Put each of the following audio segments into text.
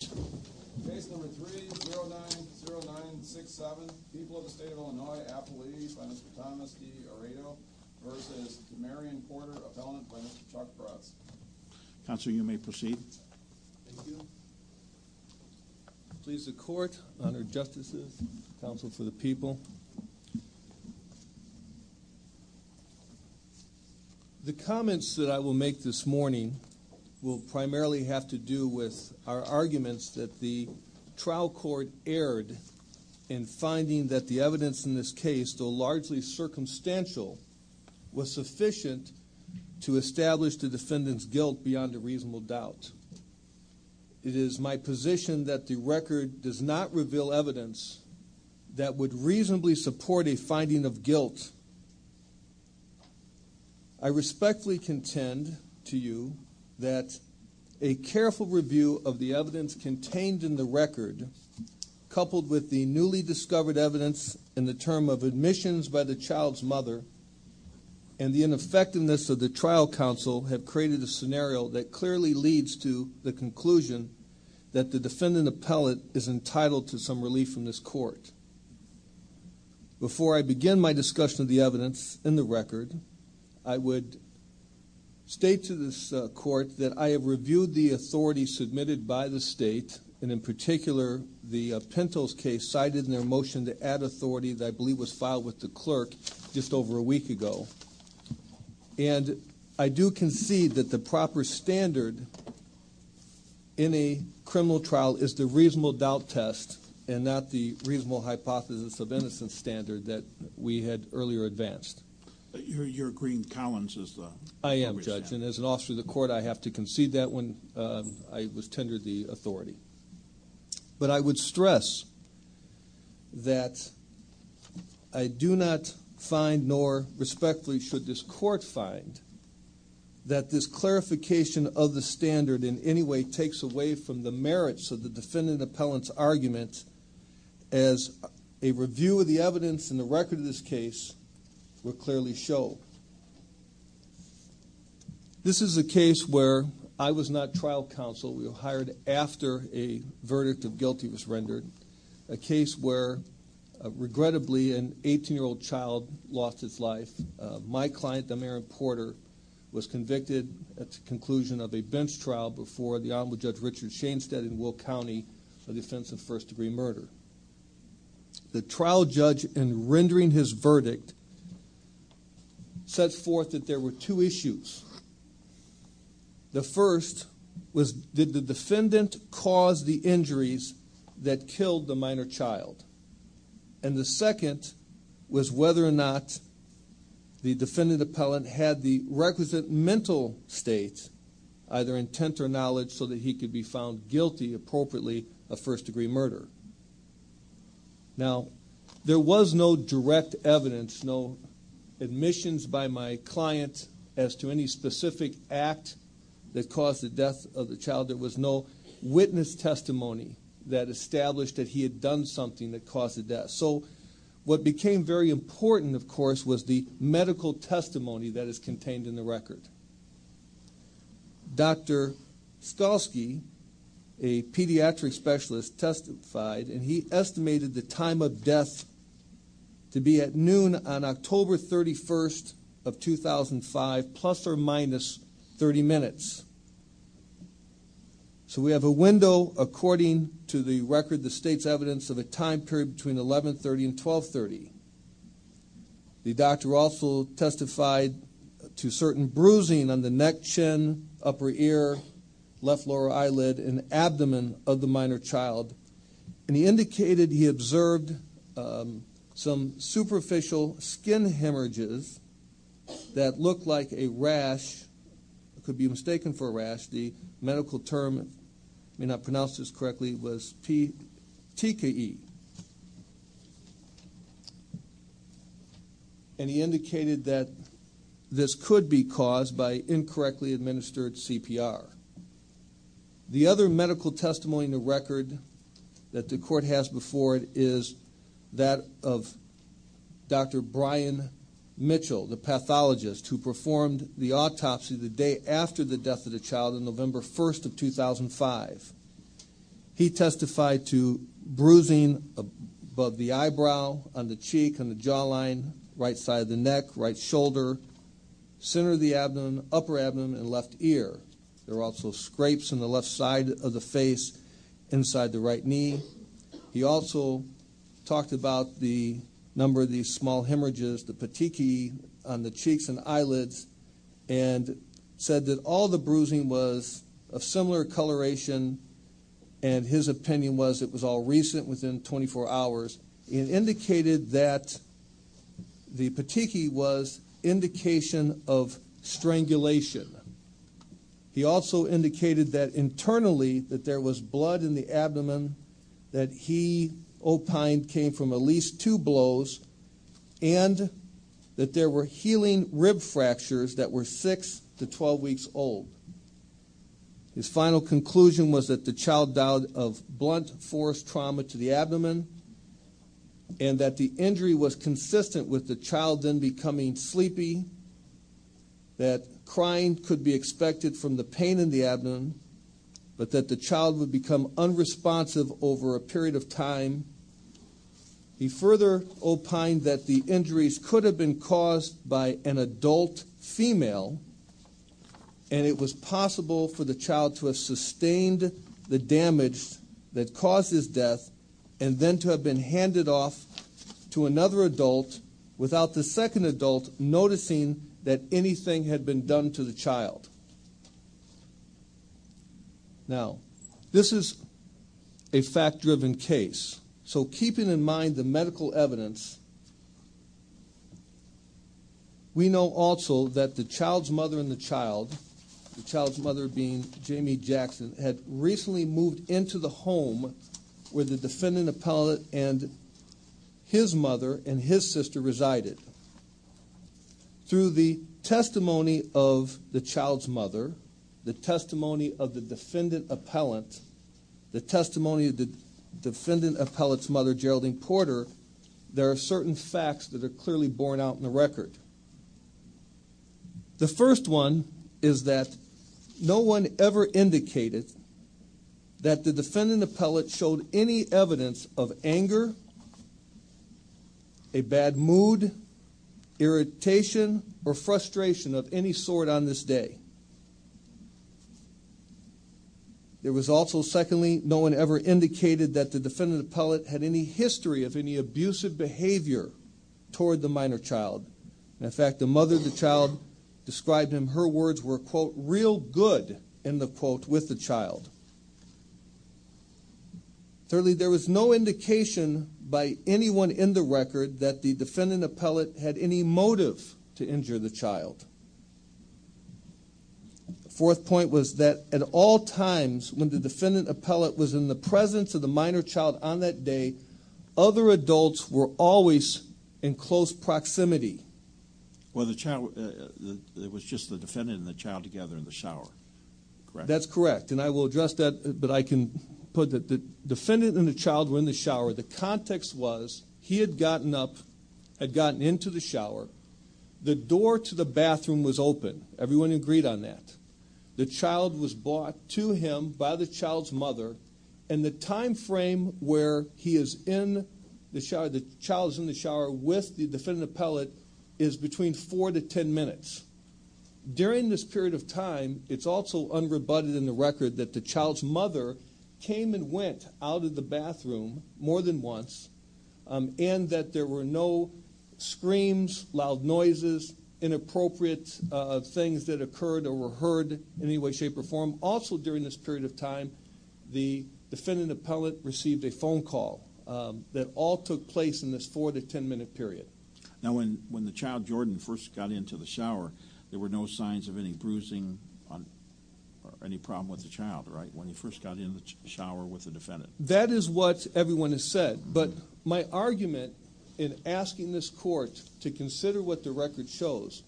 Case number 3090967, People of the State of Illinois, Appalachia, by Mr. Thomas D. Aredo v. DeMarion Porter, Appellant, by Mr. Chuck Bratz. Counsel, you may proceed. Thank you. Please, the Court, Honored Justices, Counsel for the People. The comments that I will make this morning will primarily have to do with our arguments that the trial court erred in finding that the evidence in this case, though largely circumstantial, was sufficient to establish the defendant's guilt beyond a reasonable doubt. It is my position that the record does not reveal evidence that would reasonably support a finding of guilt. I respectfully contend to you that a careful review of the evidence contained in the record, coupled with the newly discovered evidence in the term of admissions by the child's mother and the ineffectiveness of the trial counsel have created a scenario that clearly leads to the conclusion that the defendant appellate is entitled to some relief from this court. Before I begin my discussion of the evidence in the record, I would state to this court that I have reviewed the authority submitted by the State, and in particular, the Pintos case, cited in their motion to add authority that I believe was filed with the clerk just over a week ago, and I do concede that the proper standard in a criminal trial is the reasonable doubt test and not the reasonable hypothesis of innocence standard that we had earlier advanced. You're agreeing Collins is the... I am, Judge, and as an officer of the court, I have to concede that one. I was tendered the authority. But I would stress that I do not find, nor respectfully should this court find, that this clarification of the standard in any way takes away from the merits of the defendant appellant's argument as a review of the evidence in the record of this case will clearly show. This is a case where I was not trial counsel. We were hired after a verdict of guilty was rendered, a case where, regrettably, an 18-year-old child lost his life. My client, Dameron Porter, was convicted at the conclusion of a bench trial before the Honorable Judge Richard Shainstead in Will County for the offense of first-degree murder. The trial judge, in rendering his verdict, set forth that there were two issues. The first was, did the defendant cause the injuries that killed the minor child? And the second was whether or not the defendant appellant had the requisite mental state, either intent or knowledge, so that he could be found guilty, appropriately, of first-degree murder. Now, there was no direct evidence, no admissions by my client as to any specific act that caused the death of the child. There was no witness testimony that established that he had done something that caused the death. So what became very important, of course, was the medical testimony that is contained in the record. Dr. Stolsky, a pediatric specialist, testified, and he estimated the time of death to be at noon on October 31st of 2005, plus or minus 30 minutes. So we have a window according to the record that states evidence of a time period between 1130 and 1230. The doctor also testified to certain bruising on the neck, chin, upper ear, left lower eyelid, and abdomen of the minor child. And he indicated he observed some superficial skin hemorrhages that looked like a rash, could be mistaken for a rash. The medical term, I may not pronounce this correctly, was TKE. And he indicated that this could be caused by incorrectly administered CPR. The other medical testimony in the record that the court has before it is that of Dr. Brian Mitchell, the pathologist who performed the autopsy the day after the death of the child on November 1st of 2005. He testified to bruising above the eyebrow, on the cheek, on the jawline, right side of the neck, right shoulder, center of the abdomen, upper abdomen, and left ear. There were also scrapes on the left side of the face, inside the right knee. He also talked about the number of these small hemorrhages, the petechiae on the cheeks and eyelids, and said that all the bruising was of similar coloration, and his opinion was it was all recent, within 24 hours. He indicated that the petechiae was indication of strangulation. He also indicated that internally, that there was blood in the abdomen, that he opined came from at least two blows, and that there were healing rib fractures that were 6 to 12 weeks old. His final conclusion was that the child died of blunt force trauma to the abdomen, and that the injury was consistent with the child then becoming sleepy, that crying could be expected from the pain in the abdomen, but that the child would become unresponsive over a period of time. He further opined that the injuries could have been caused by an adult female, and it was possible for the child to have sustained the damage that caused his death, and then to have been handed off to another adult without the second adult noticing that anything had been done to the child. Now, this is a fact-driven case, so keeping in mind the medical evidence, we know also that the child's mother and the child, the child's mother being Jamie Jackson, had recently moved into the home where the defendant appellate and his mother and his sister resided. Through the testimony of the child's mother, the testimony of the defendant appellate, the testimony of the defendant appellate's mother, Geraldine Porter, there are certain facts that are clearly borne out in the record. The first one is that no one ever indicated that the defendant appellate showed any evidence of anger, a bad mood, irritation, or frustration of any sort on this day. There was also, secondly, no one ever indicated that the defendant appellate had any history of any abusive behavior toward the minor child. In fact, the mother of the child described in her words were, quote, real good, end of quote, with the child. Thirdly, there was no indication by anyone in the record that the defendant appellate had any motive to injure the child. The fourth point was that at all times when the defendant appellate was in the presence of the minor child on that day, other adults were always in close proximity. Well, the child, it was just the defendant and the child together in the shower, correct? That's correct, and I will address that, but I can put that the defendant and the child were in the shower. The context was he had gotten up, had gotten into the shower. The door to the bathroom was open. Everyone agreed on that. The child was brought to him by the child's mother, and the time frame where he is in the shower, the child is in the shower with the defendant appellate is between 4 to 10 minutes. During this period of time, it's also unrebutted in the record that the child's mother came and went out of the bathroom more than once, and that there were no screams, loud noises, inappropriate things that occurred or were heard in any way, shape, or form. Also, during this period of time, the defendant appellate received a phone call that all took place in this 4 to 10 minute period. Now, when the child, Jordan, first got into the shower, there were no signs of any bruising or any problem with the child, right, when he first got in the shower with the defendant? That is what everyone has said, but my argument in asking this court to consider what the record shows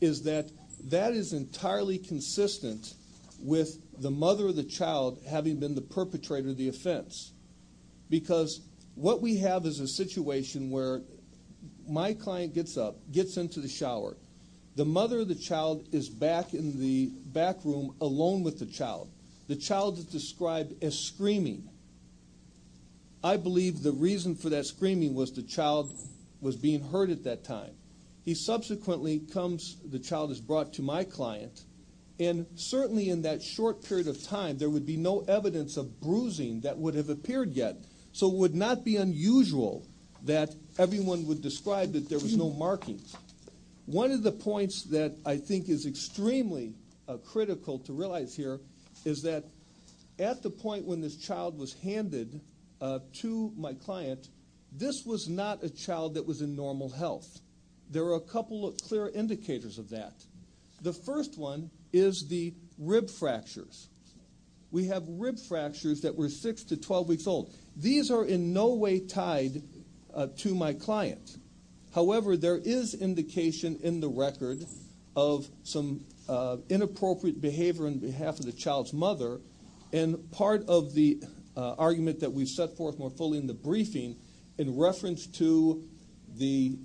is that that is entirely consistent with the mother of the child having been the perpetrator of the offense, because what we have is a situation where my client gets up, gets into the shower. The mother of the child is back in the back room alone with the child. The child is described as screaming. I believe the reason for that screaming was the child was being heard at that time. He subsequently comes, the child is brought to my client, and certainly in that short period of time, there would be no evidence of bruising that would have appeared yet, so it would not be unusual that everyone would describe that there was no markings. One of the points that I think is extremely critical to realize here is that at the point when this child was handed to my client, this was not a child that was in normal health. There are a couple of clear indicators of that. The first one is the rib fractures. We have rib fractures that were 6 to 12 weeks old. These are in no way tied to my client. However, there is indication in the record of some inappropriate behavior on behalf of the child's mother, and part of the argument that we've set forth more fully in the briefing in reference to the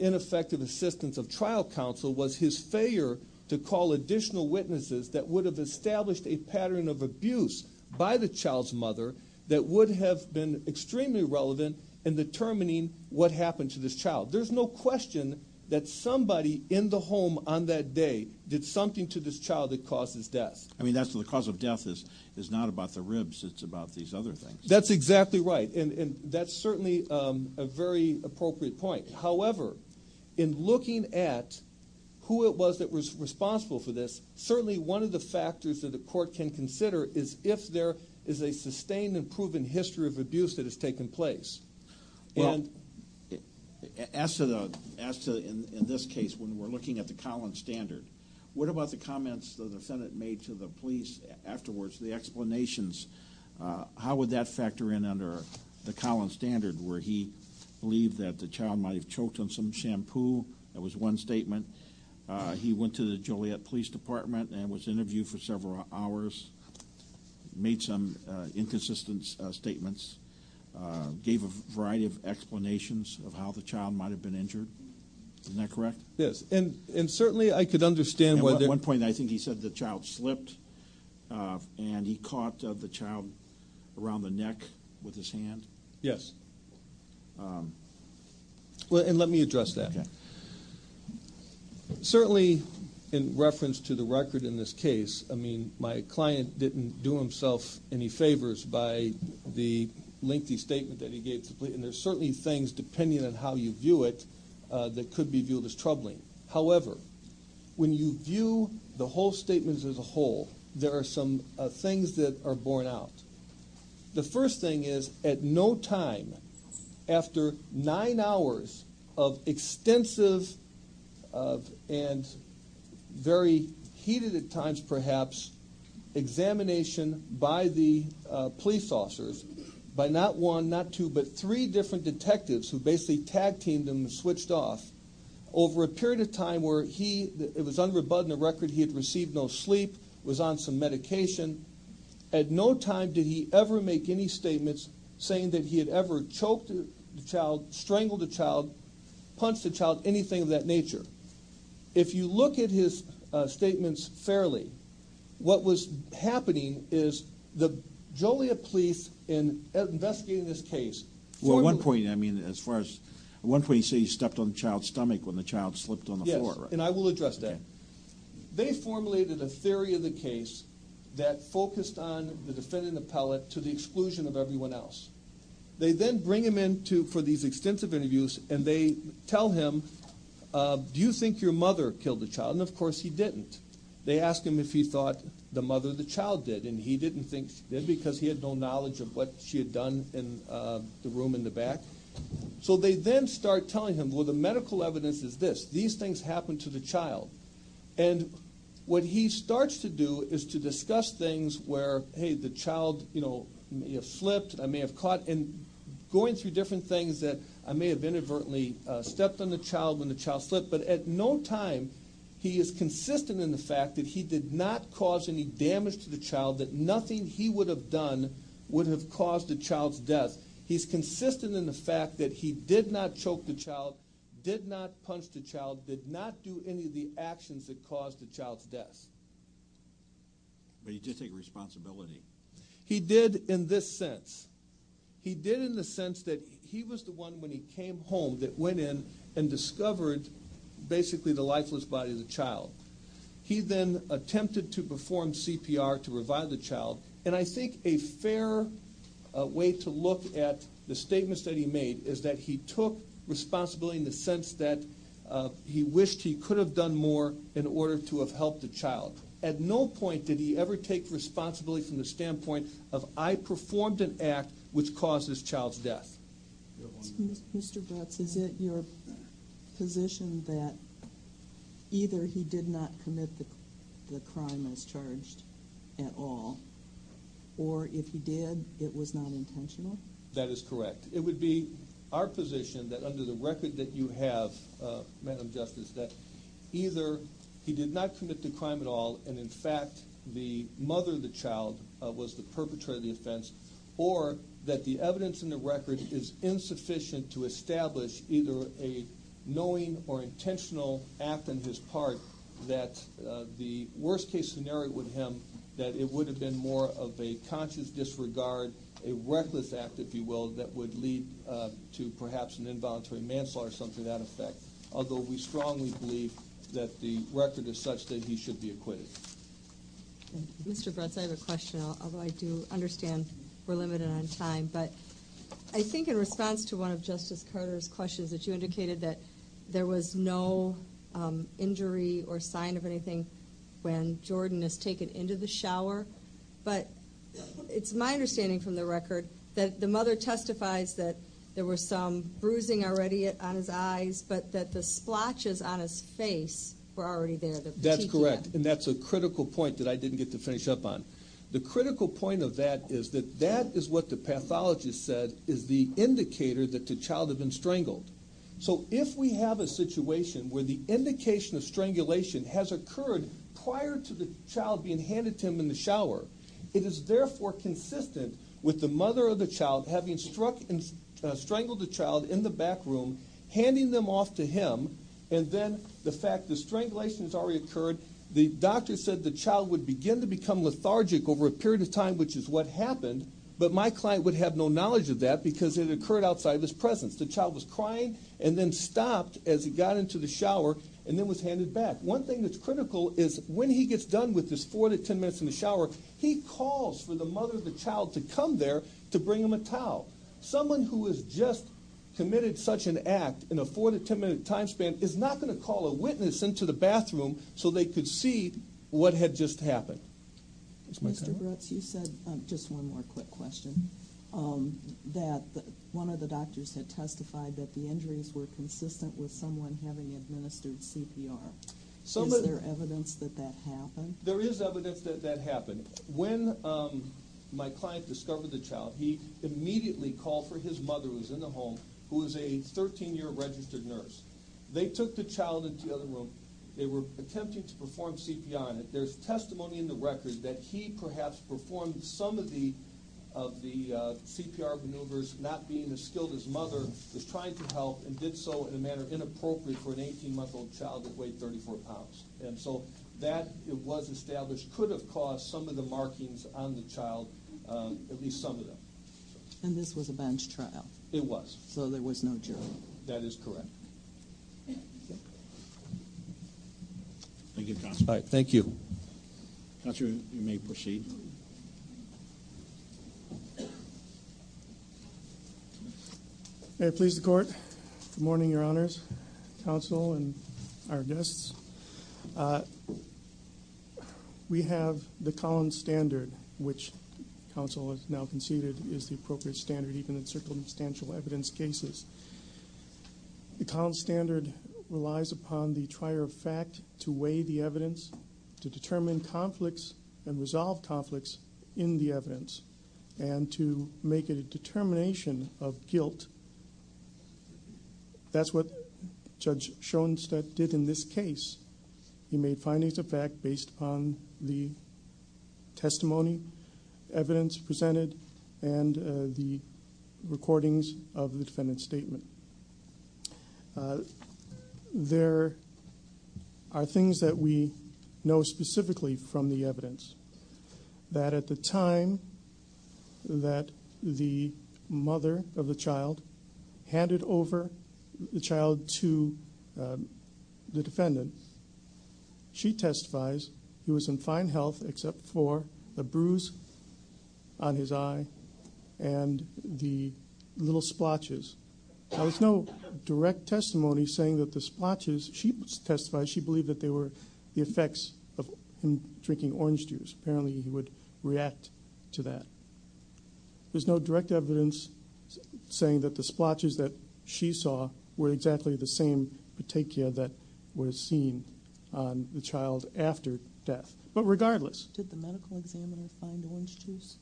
ineffective assistance of trial counsel was his failure to call additional witnesses that would have established a pattern of abuse by the child's mother that would have been extremely relevant in determining what happened to this child. There's no question that somebody in the home on that day did something to this child that caused his death. I mean, the cause of death is not about the ribs. It's about these other things. That's exactly right, and that's certainly a very appropriate point. However, in looking at who it was that was responsible for this, certainly one of the factors that a court can consider is if there is a sustained and proven history of abuse that has taken place. As to in this case when we're looking at the Collins standard, what about the comments the defendant made to the police afterwards, the explanations? How would that factor in under the Collins standard where he believed that the child might have choked on some shampoo? That was one statement. He went to the Joliet Police Department and was interviewed for several hours, made some inconsistent statements, gave a variety of explanations of how the child might have been injured. Isn't that correct? Yes, and certainly I could understand whether- At one point I think he said the child slipped and he caught the child around the neck with his hand. Yes. Well, and let me address that. Okay. Certainly in reference to the record in this case, I mean, my client didn't do himself any favors by the lengthy statement that he gave to the police, and there's certainly things, depending on how you view it, that could be viewed as troubling. However, when you view the whole statements as a whole, there are some things that are borne out. The first thing is at no time after nine hours of extensive and very heated at times perhaps examination by the police officers, by not one, not two, but three different detectives who basically tag-teamed him and switched off, over a period of time where it was unrebutted in the record he had received no sleep, was on some medication, at no time did he ever make any statements saying that he had ever choked the child, strangled the child, punched the child, anything of that nature. If you look at his statements fairly, what was happening is the Joliet police in investigating this case- Well, at one point, I mean, as far as- At one point he said he stepped on the child's stomach when the child slipped on the floor. Yes, and I will address that. They formulated a theory of the case that focused on the defendant appellate to the exclusion of everyone else. They then bring him in for these extensive interviews and they tell him, do you think your mother killed the child? And of course he didn't. They asked him if he thought the mother of the child did, and he didn't think she did because he had no knowledge of what she had done in the room in the back. So they then start telling him, well, the medical evidence is this. These things happened to the child. And what he starts to do is to discuss things where, hey, the child may have slipped, I may have caught, and going through different things that I may have inadvertently stepped on the child when the child slipped, but at no time he is consistent in the fact that he did not cause any damage to the child, that nothing he would have done would have caused the child's death. Because he's consistent in the fact that he did not choke the child, did not punch the child, did not do any of the actions that caused the child's death. But he did take responsibility. He did in this sense. He did in the sense that he was the one when he came home that went in and discovered basically the lifeless body of the child. He then attempted to perform CPR to revive the child, and I think a fair way to look at the statements that he made is that he took responsibility in the sense that he wished he could have done more in order to have helped the child. At no point did he ever take responsibility from the standpoint of, I performed an act which caused this child's death. Mr. Brutz, is it your position that either he did not commit the crime as charged at all, or if he did, it was not intentional? That is correct. It would be our position that under the record that you have, Madam Justice, that either he did not commit the crime at all, and in fact the mother of the child was the perpetrator of the offense, or that the evidence in the record is insufficient to establish either a knowing or intentional act on his part that the worst-case scenario would hem that it would have been more of a conscious disregard, a reckless act, if you will, that would lead to perhaps an involuntary manslaughter or something to that effect, although we strongly believe that the record is such that he should be acquitted. Mr. Brutz, I have a question, although I do understand we're limited on time, but I think in response to one of Justice Carter's questions that you indicated that there was no injury or sign of anything when Jordan was taken into the shower, but it's my understanding from the record that the mother testifies that there was some bruising already on his eyes, but that the splotches on his face were already there. That's correct, and that's a critical point that I didn't get to finish up on. The critical point of that is that that is what the pathologist said is the indicator that the child had been strangled. So if we have a situation where the indication of strangulation has occurred prior to the child being handed to him in the shower, it is therefore consistent with the mother of the child having strangled the child in the back room, handing them off to him, and then the fact that strangulation has already occurred. The doctor said the child would begin to become lethargic over a period of time, which is what happened, but my client would have no knowledge of that because it occurred outside of his presence. The child was crying and then stopped as he got into the shower and then was handed back. One thing that's critical is when he gets done with his 4 to 10 minutes in the shower, he calls for the mother of the child to come there to bring him a towel. Someone who has just committed such an act in a 4 to 10 minute time span is not going to call a witness into the bathroom so they could see what had just happened. Mr. Brutz, you said, just one more quick question, that one of the doctors had testified that the injuries were consistent with someone having administered CPR. Is there evidence that that happened? There is evidence that that happened. When my client discovered the child, he immediately called for his mother, who was in the home, who was a 13-year registered nurse. They took the child into the other room. They were attempting to perform CPR on it. There's testimony in the record that he perhaps performed some of the CPR maneuvers, not being as skilled as his mother was trying to help, and did so in a manner inappropriate for an 18-month-old child that weighed 34 pounds. And so that, it was established, could have caused some of the markings on the child, at least some of them. And this was a bench trial? It was. So there was no jury? That is correct. Thank you, counsel. Thank you. Counsel, you may proceed. May it please the Court, good morning, Your Honors, counsel and our guests. We have the Collins Standard, which counsel has now conceded is the appropriate standard even in circumstantial evidence cases. The Collins Standard relies upon the trier of fact to weigh the evidence, to determine conflicts and resolve conflicts in the evidence, and to make it a determination of guilt. That's what Judge Schoenstatt did in this case. He made findings of fact based upon the testimony, evidence presented, and the recordings of the defendant's statement. There are things that we know specifically from the evidence, that at the time that the mother of the child handed over the child to the defendant, she testifies he was in fine health except for a bruise on his eye and the little splotches. There was no direct testimony saying that the splotches, she testified, she believed that they were the effects of him drinking orange juice. Apparently he would react to that. There's no direct evidence saying that the splotches that she saw were exactly the same petechia that was seen on the child after death. But regardless... Did the medical examiner find orange juice?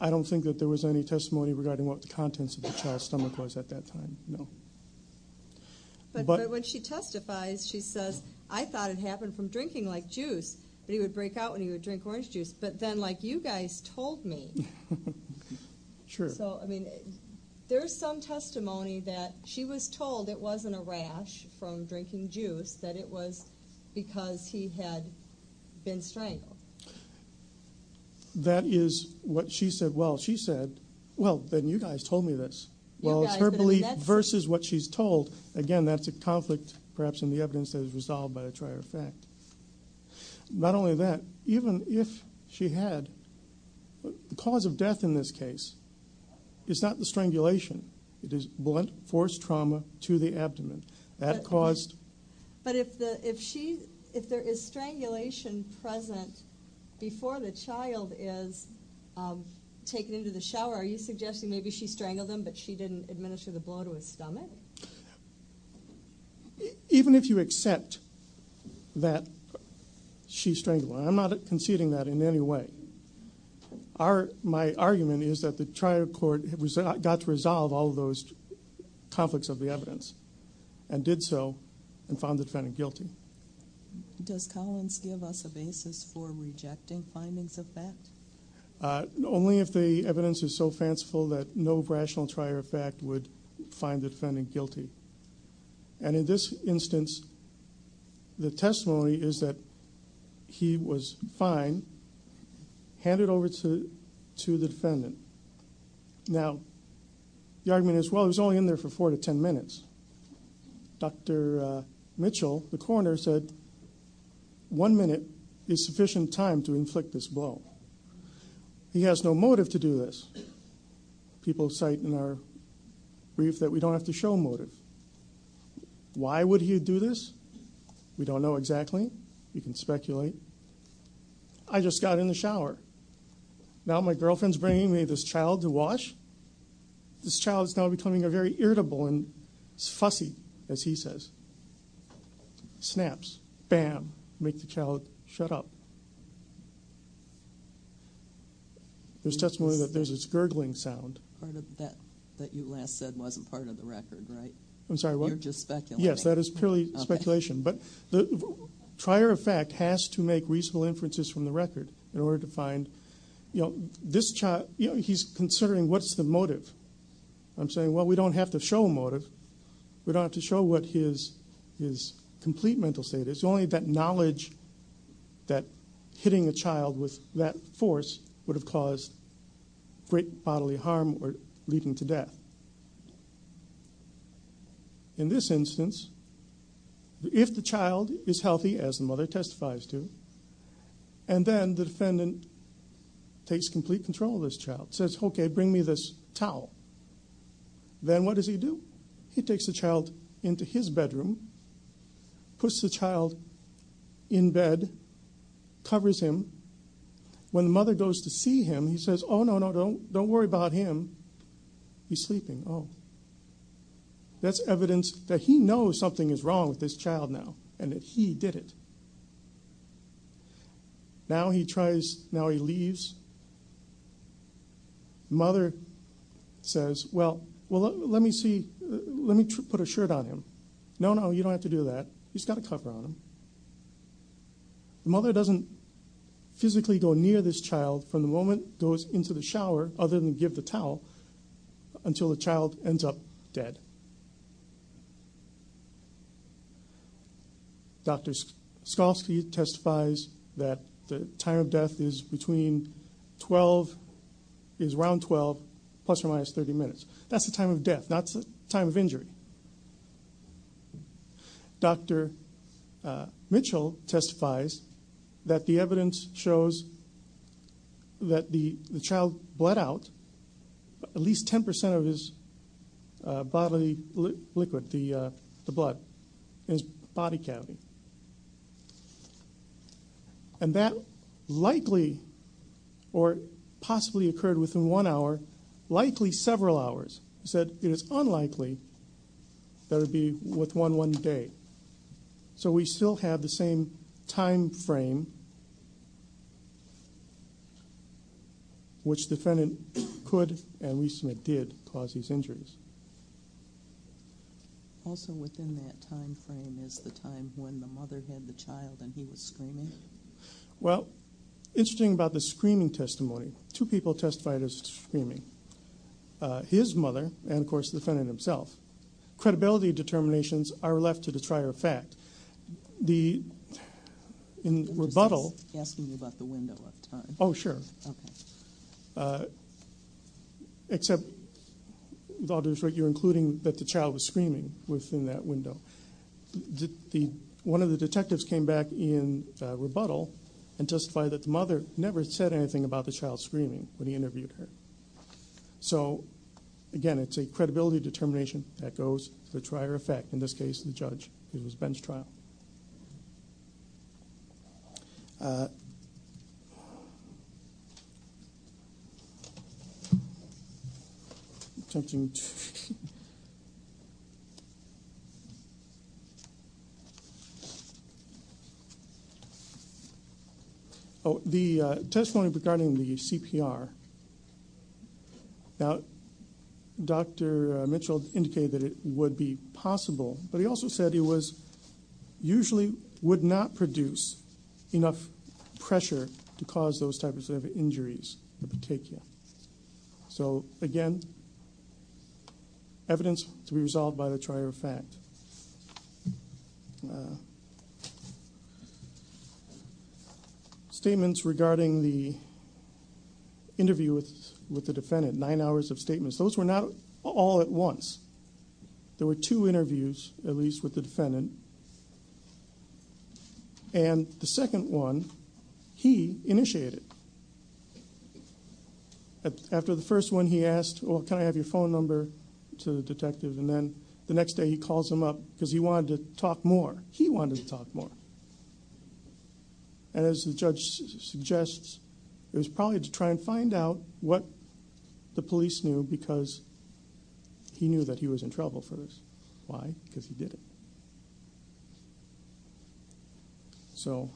I don't think that there was any testimony regarding what the contents of the child's stomach was at that time, no. But when she testifies, she says, I thought it happened from drinking like juice, that he would break out when he would drink orange juice. But then, like you guys told me... Sure. So, I mean, there's some testimony that she was told it wasn't a rash from drinking juice, that it was because he had been strangled. That is what she said. Well, she said, well, then you guys told me this. Well, it's her belief versus what she's told. Again, that's a conflict, perhaps, in the evidence that is resolved by the trier effect. Not only that, even if she had... The cause of death in this case is not the strangulation. It is blunt force trauma to the abdomen. That caused... But if she... If there is strangulation present before the child is taken into the shower, are you suggesting maybe she strangled him but she didn't administer the blow to his stomach? Even if you accept that she strangled him, and I'm not conceding that in any way, my argument is that the trier court got to resolve all those conflicts of the evidence and did so and found the defendant guilty. Does Collins give us a basis for rejecting findings of that? Only if the evidence is so fanciful that no rational trier effect would find the defendant guilty. And in this instance, the testimony is that he was fine, handed over to the defendant. Now, the argument is, well, he was only in there for 4 to 10 minutes. Dr. Mitchell, the coroner, said, one minute is sufficient time to inflict this blow. He has no motive to do this. People cite in our brief that we don't have to show motive. Why would he do this? We don't know exactly. You can speculate. I just got in the shower. Now my girlfriend's bringing me this child to wash. This child is now becoming a very irritable and fussy, as he says. Snaps. Bam. Make the child shut up. There's testimony that there's this gurgling sound. Part of that that you last said wasn't part of the record, right? I'm sorry, what? You're just speculating. Yes, that is purely speculation. But the trier effect has to make reasonable inferences from the record in order to find, you know, he's considering what's the motive. I'm saying, well, we don't have to show motive. We don't have to show what his complete mental state is. Only that knowledge that hitting a child with that force would have caused great bodily harm or leading to death. In this instance, if the child is healthy, as the mother testifies to, and then the defendant takes complete control of this child, says, okay, bring me this towel. Then what does he do? He takes the child into his bedroom, puts the child in bed, covers him. When the mother goes to see him, he says, oh, no, no, don't worry about him. He's sleeping. That's evidence that he knows something is wrong with this child now and that he did it. Now he tries, now he leaves. The mother says, well, let me see, let me put a shirt on him. No, no, you don't have to do that. He's got a cover on him. The mother doesn't physically go near this child from the moment goes into the shower, other than give the towel, until the child ends up dead. Dr. Skolski testifies that the time of death is between 12, is around 12, plus or minus 30 minutes. That's the time of death, not the time of injury. Dr. Mitchell testifies that the evidence shows that the child bled out at least 10% of his bodily liquid, the blood, in his body cavity. And that likely or possibly occurred within one hour, likely several hours. He said it is unlikely that it would be within one day. So we still have the same time frame which the defendant could and we submit did cause these injuries. Also within that time frame is the time when the mother had the child and he was screaming. Well, interesting about the screaming testimony. Two people testified as screaming. His mother and, of course, the defendant himself. Credibility determinations are left to the trier of fact. In rebuttal- I'm just asking you about the window of time. Oh, sure. Okay. Except you're including that the child was screaming within that window. One of the detectives came back in rebuttal and testified that the mother never said anything about the child screaming when he interviewed her. So, again, it's a credibility determination that goes to the trier of fact. In this case, the judge. It was Ben's trial. Okay. The testimony regarding the CPR. Now, Dr. Mitchell indicated that it would be possible, but he also said it was usually would not produce enough pressure to cause those types of injuries. So, again, evidence to be resolved by the trier of fact. Okay. Statements regarding the interview with the defendant. Nine hours of statements. Those were not all at once. There were two interviews, at least, with the defendant. And the second one he initiated. After the first one, he asked, well, can I have your phone number to the detective? And then the next day he calls him up because he wanted to talk more. He wanted to talk more. And as the judge suggests, it was probably to try and find out what the police knew because he knew that he was in trouble for this. Why? Because he did it. So,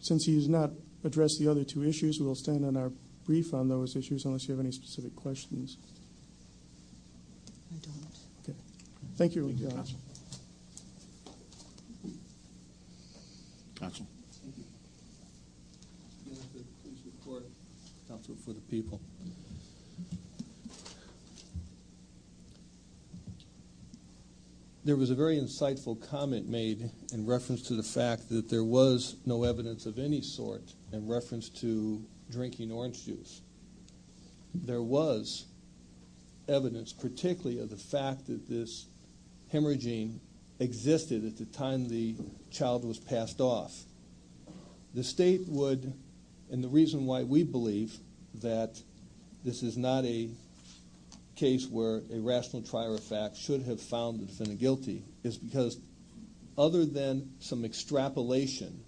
since he has not addressed the other two issues, we'll stand on our brief on those issues, unless you have any specific questions. I don't. Okay. Thank you. Counsel. Counsel. Thank you. Mr. Jonathan, please report. Counsel for the people. There was a very insightful comment made in reference to the fact that there was no evidence of any sort in reference to drinking orange juice. There was evidence, particularly of the fact that this hemorrhaging existed at the time the child was passed off. The State would, and the reason why we believe that this is not a case where a rational trier of facts should have found the defendant guilty, is because other than some extrapolation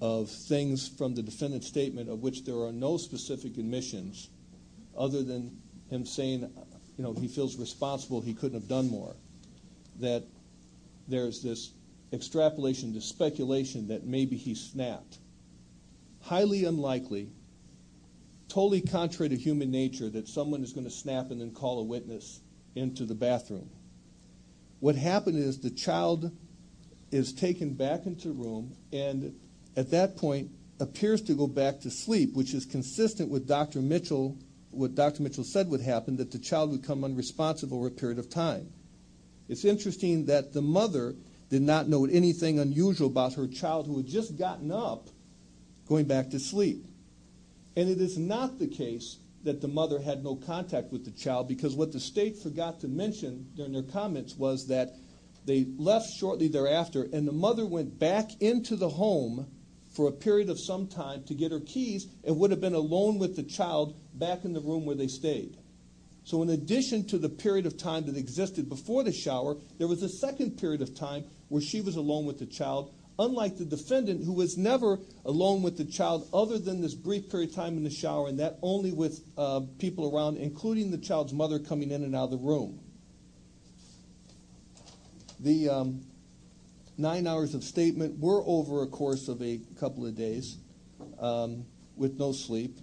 of things from the defendant's statement of which there are no specific admissions, other than him saying, you know, he feels responsible, he couldn't have done more, that there's this extrapolation, this speculation that maybe he snapped. Highly unlikely, totally contrary to human nature, that someone is going to snap and then call a witness into the bathroom. What happened is the child is taken back into the room and at that point appears to go back to sleep, which is consistent with what Dr. Mitchell said would happen, that the child would become unresponsive over a period of time. It's interesting that the mother did not note anything unusual about her child who had just gotten up going back to sleep. And it is not the case that the mother had no contact with the child, because what the State forgot to mention in their comments was that they left shortly thereafter and the mother went back into the home for a period of some time to get her keys and would have been alone with the child back in the room where they stayed. So in addition to the period of time that existed before the shower, there was a second period of time where she was alone with the child, unlike the defendant who was never alone with the child other than this brief period of time in the shower and that only with people around, including the child's mother, coming in and out of the room. The nine hours of statement were over a course of a couple of days with no sleep.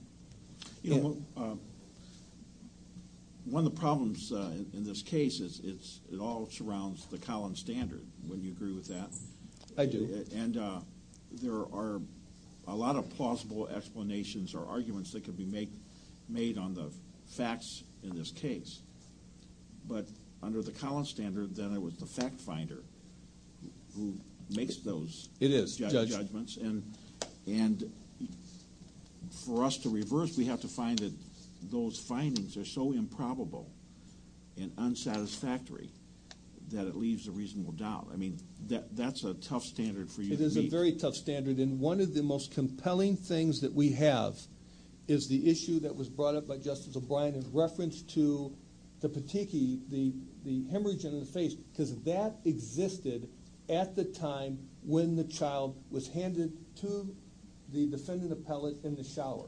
You know, one of the problems in this case is it all surrounds the Collins Standard. Wouldn't you agree with that? I do. And there are a lot of plausible explanations or arguments that can be made on the facts in this case. But under the Collins Standard, then there was the fact finder who makes those judgments. It is, Judge. And for us to reverse, we have to find that those findings are so improbable and unsatisfactory that it leaves a reasonable doubt. I mean, that's a tough standard for you to meet. It is a very tough standard. And one of the most compelling things that we have is the issue that was brought up by Justice O'Brien in reference to the patiki, the hemorrhage in the face, because that existed at the time when the child was handed to the defendant appellate in the shower.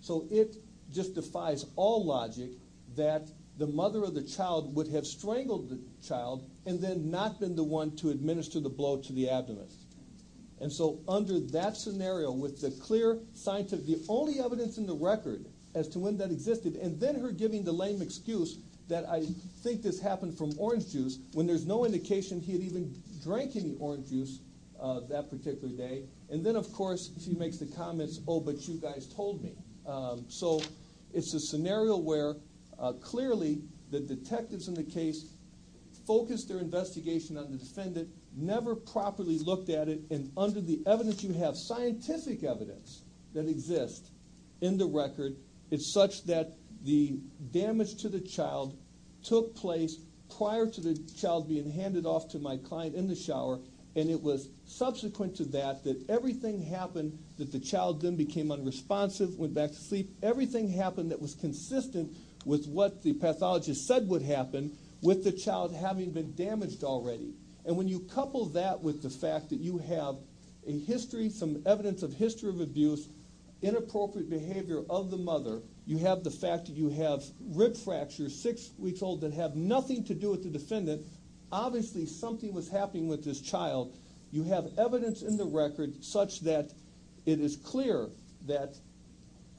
So it just defies all logic that the mother of the child would have strangled the child and then not been the one to administer the blow to the abdomen. And so under that scenario, with the clear scientific, the only evidence in the record as to when that existed, and then her giving the lame excuse that I think this happened from orange juice when there's no indication he had even drank any orange juice that particular day. And then, of course, she makes the comments, oh, but you guys told me. So it's a scenario where clearly the detectives in the case focused their investigation on the defendant, never properly looked at it, and under the evidence you have, scientific evidence that exists in the record, it's such that the damage to the child took place prior to the child being handed off to my client in the shower, and it was subsequent to that that everything happened that the child then became unresponsive, went back to sleep, everything happened that was consistent with what the pathologist said would happen with the child having been damaged already. And when you couple that with the fact that you have a history, some evidence of history of abuse, inappropriate behavior of the mother, you have the fact that you have rib fractures six weeks old that have nothing to do with the defendant, that obviously something was happening with this child. You have evidence in the record such that it is clear that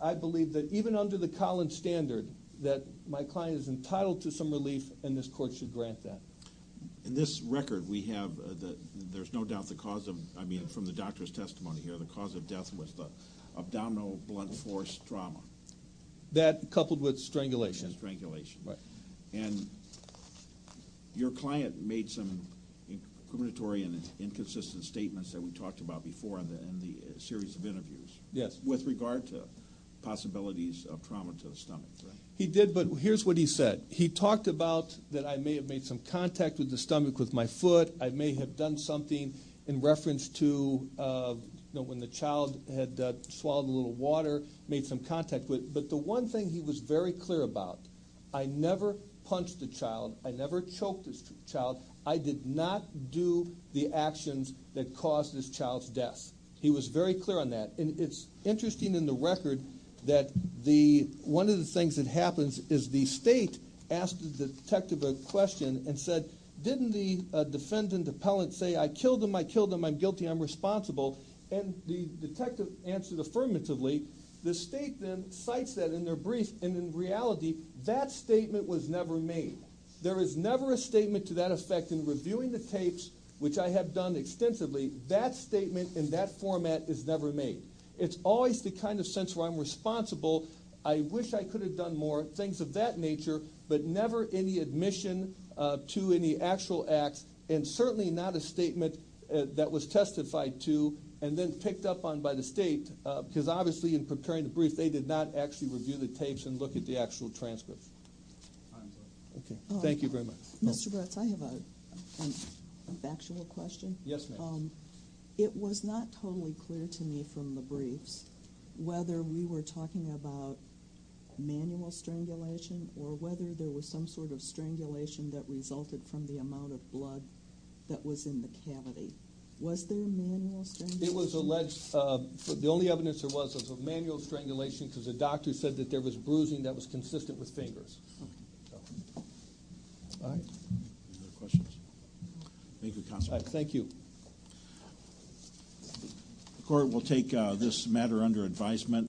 I believe that even under the Collins standard, that my client is entitled to some relief and this court should grant that. In this record we have, there's no doubt the cause of, I mean, from the doctor's testimony here, the cause of death was the abdominal blunt force trauma. That coupled with strangulation. And your client made some incriminatory and inconsistent statements that we talked about before in the series of interviews. Yes. With regard to possibilities of trauma to the stomach. He did, but here's what he said. He talked about that I may have made some contact with the stomach with my foot. I may have done something in reference to when the child had swallowed a little water, made some contact with it. But the one thing he was very clear about, I never punched the child. I never choked the child. I did not do the actions that caused this child's death. He was very clear on that. And it's interesting in the record that one of the things that happens is the state asked the detective a question and said, didn't the defendant appellant say, I killed him, I killed him, I'm guilty, I'm responsible. And the detective answered affirmatively. The state then cites that in their brief, and in reality, that statement was never made. There is never a statement to that effect in reviewing the tapes, which I have done extensively. That statement in that format is never made. It's always the kind of sense where I'm responsible, I wish I could have done more, things of that nature, but never any admission to any actual acts, and certainly not a statement that was testified to and then picked up on by the state. Because obviously in preparing the brief, they did not actually review the tapes and look at the actual transcripts. Thank you very much. Mr. Brutz, I have a factual question. Yes, ma'am. It was not totally clear to me from the briefs whether we were talking about manual strangulation or whether there was some sort of strangulation that resulted from the amount of blood that was in the cavity. Was there manual strangulation? It was alleged. The only evidence there was was of manual strangulation because the doctor said that there was bruising that was consistent with fingers. All right. Any other questions? Thank you, Counselor. Thank you. The court will take this matter under advisement.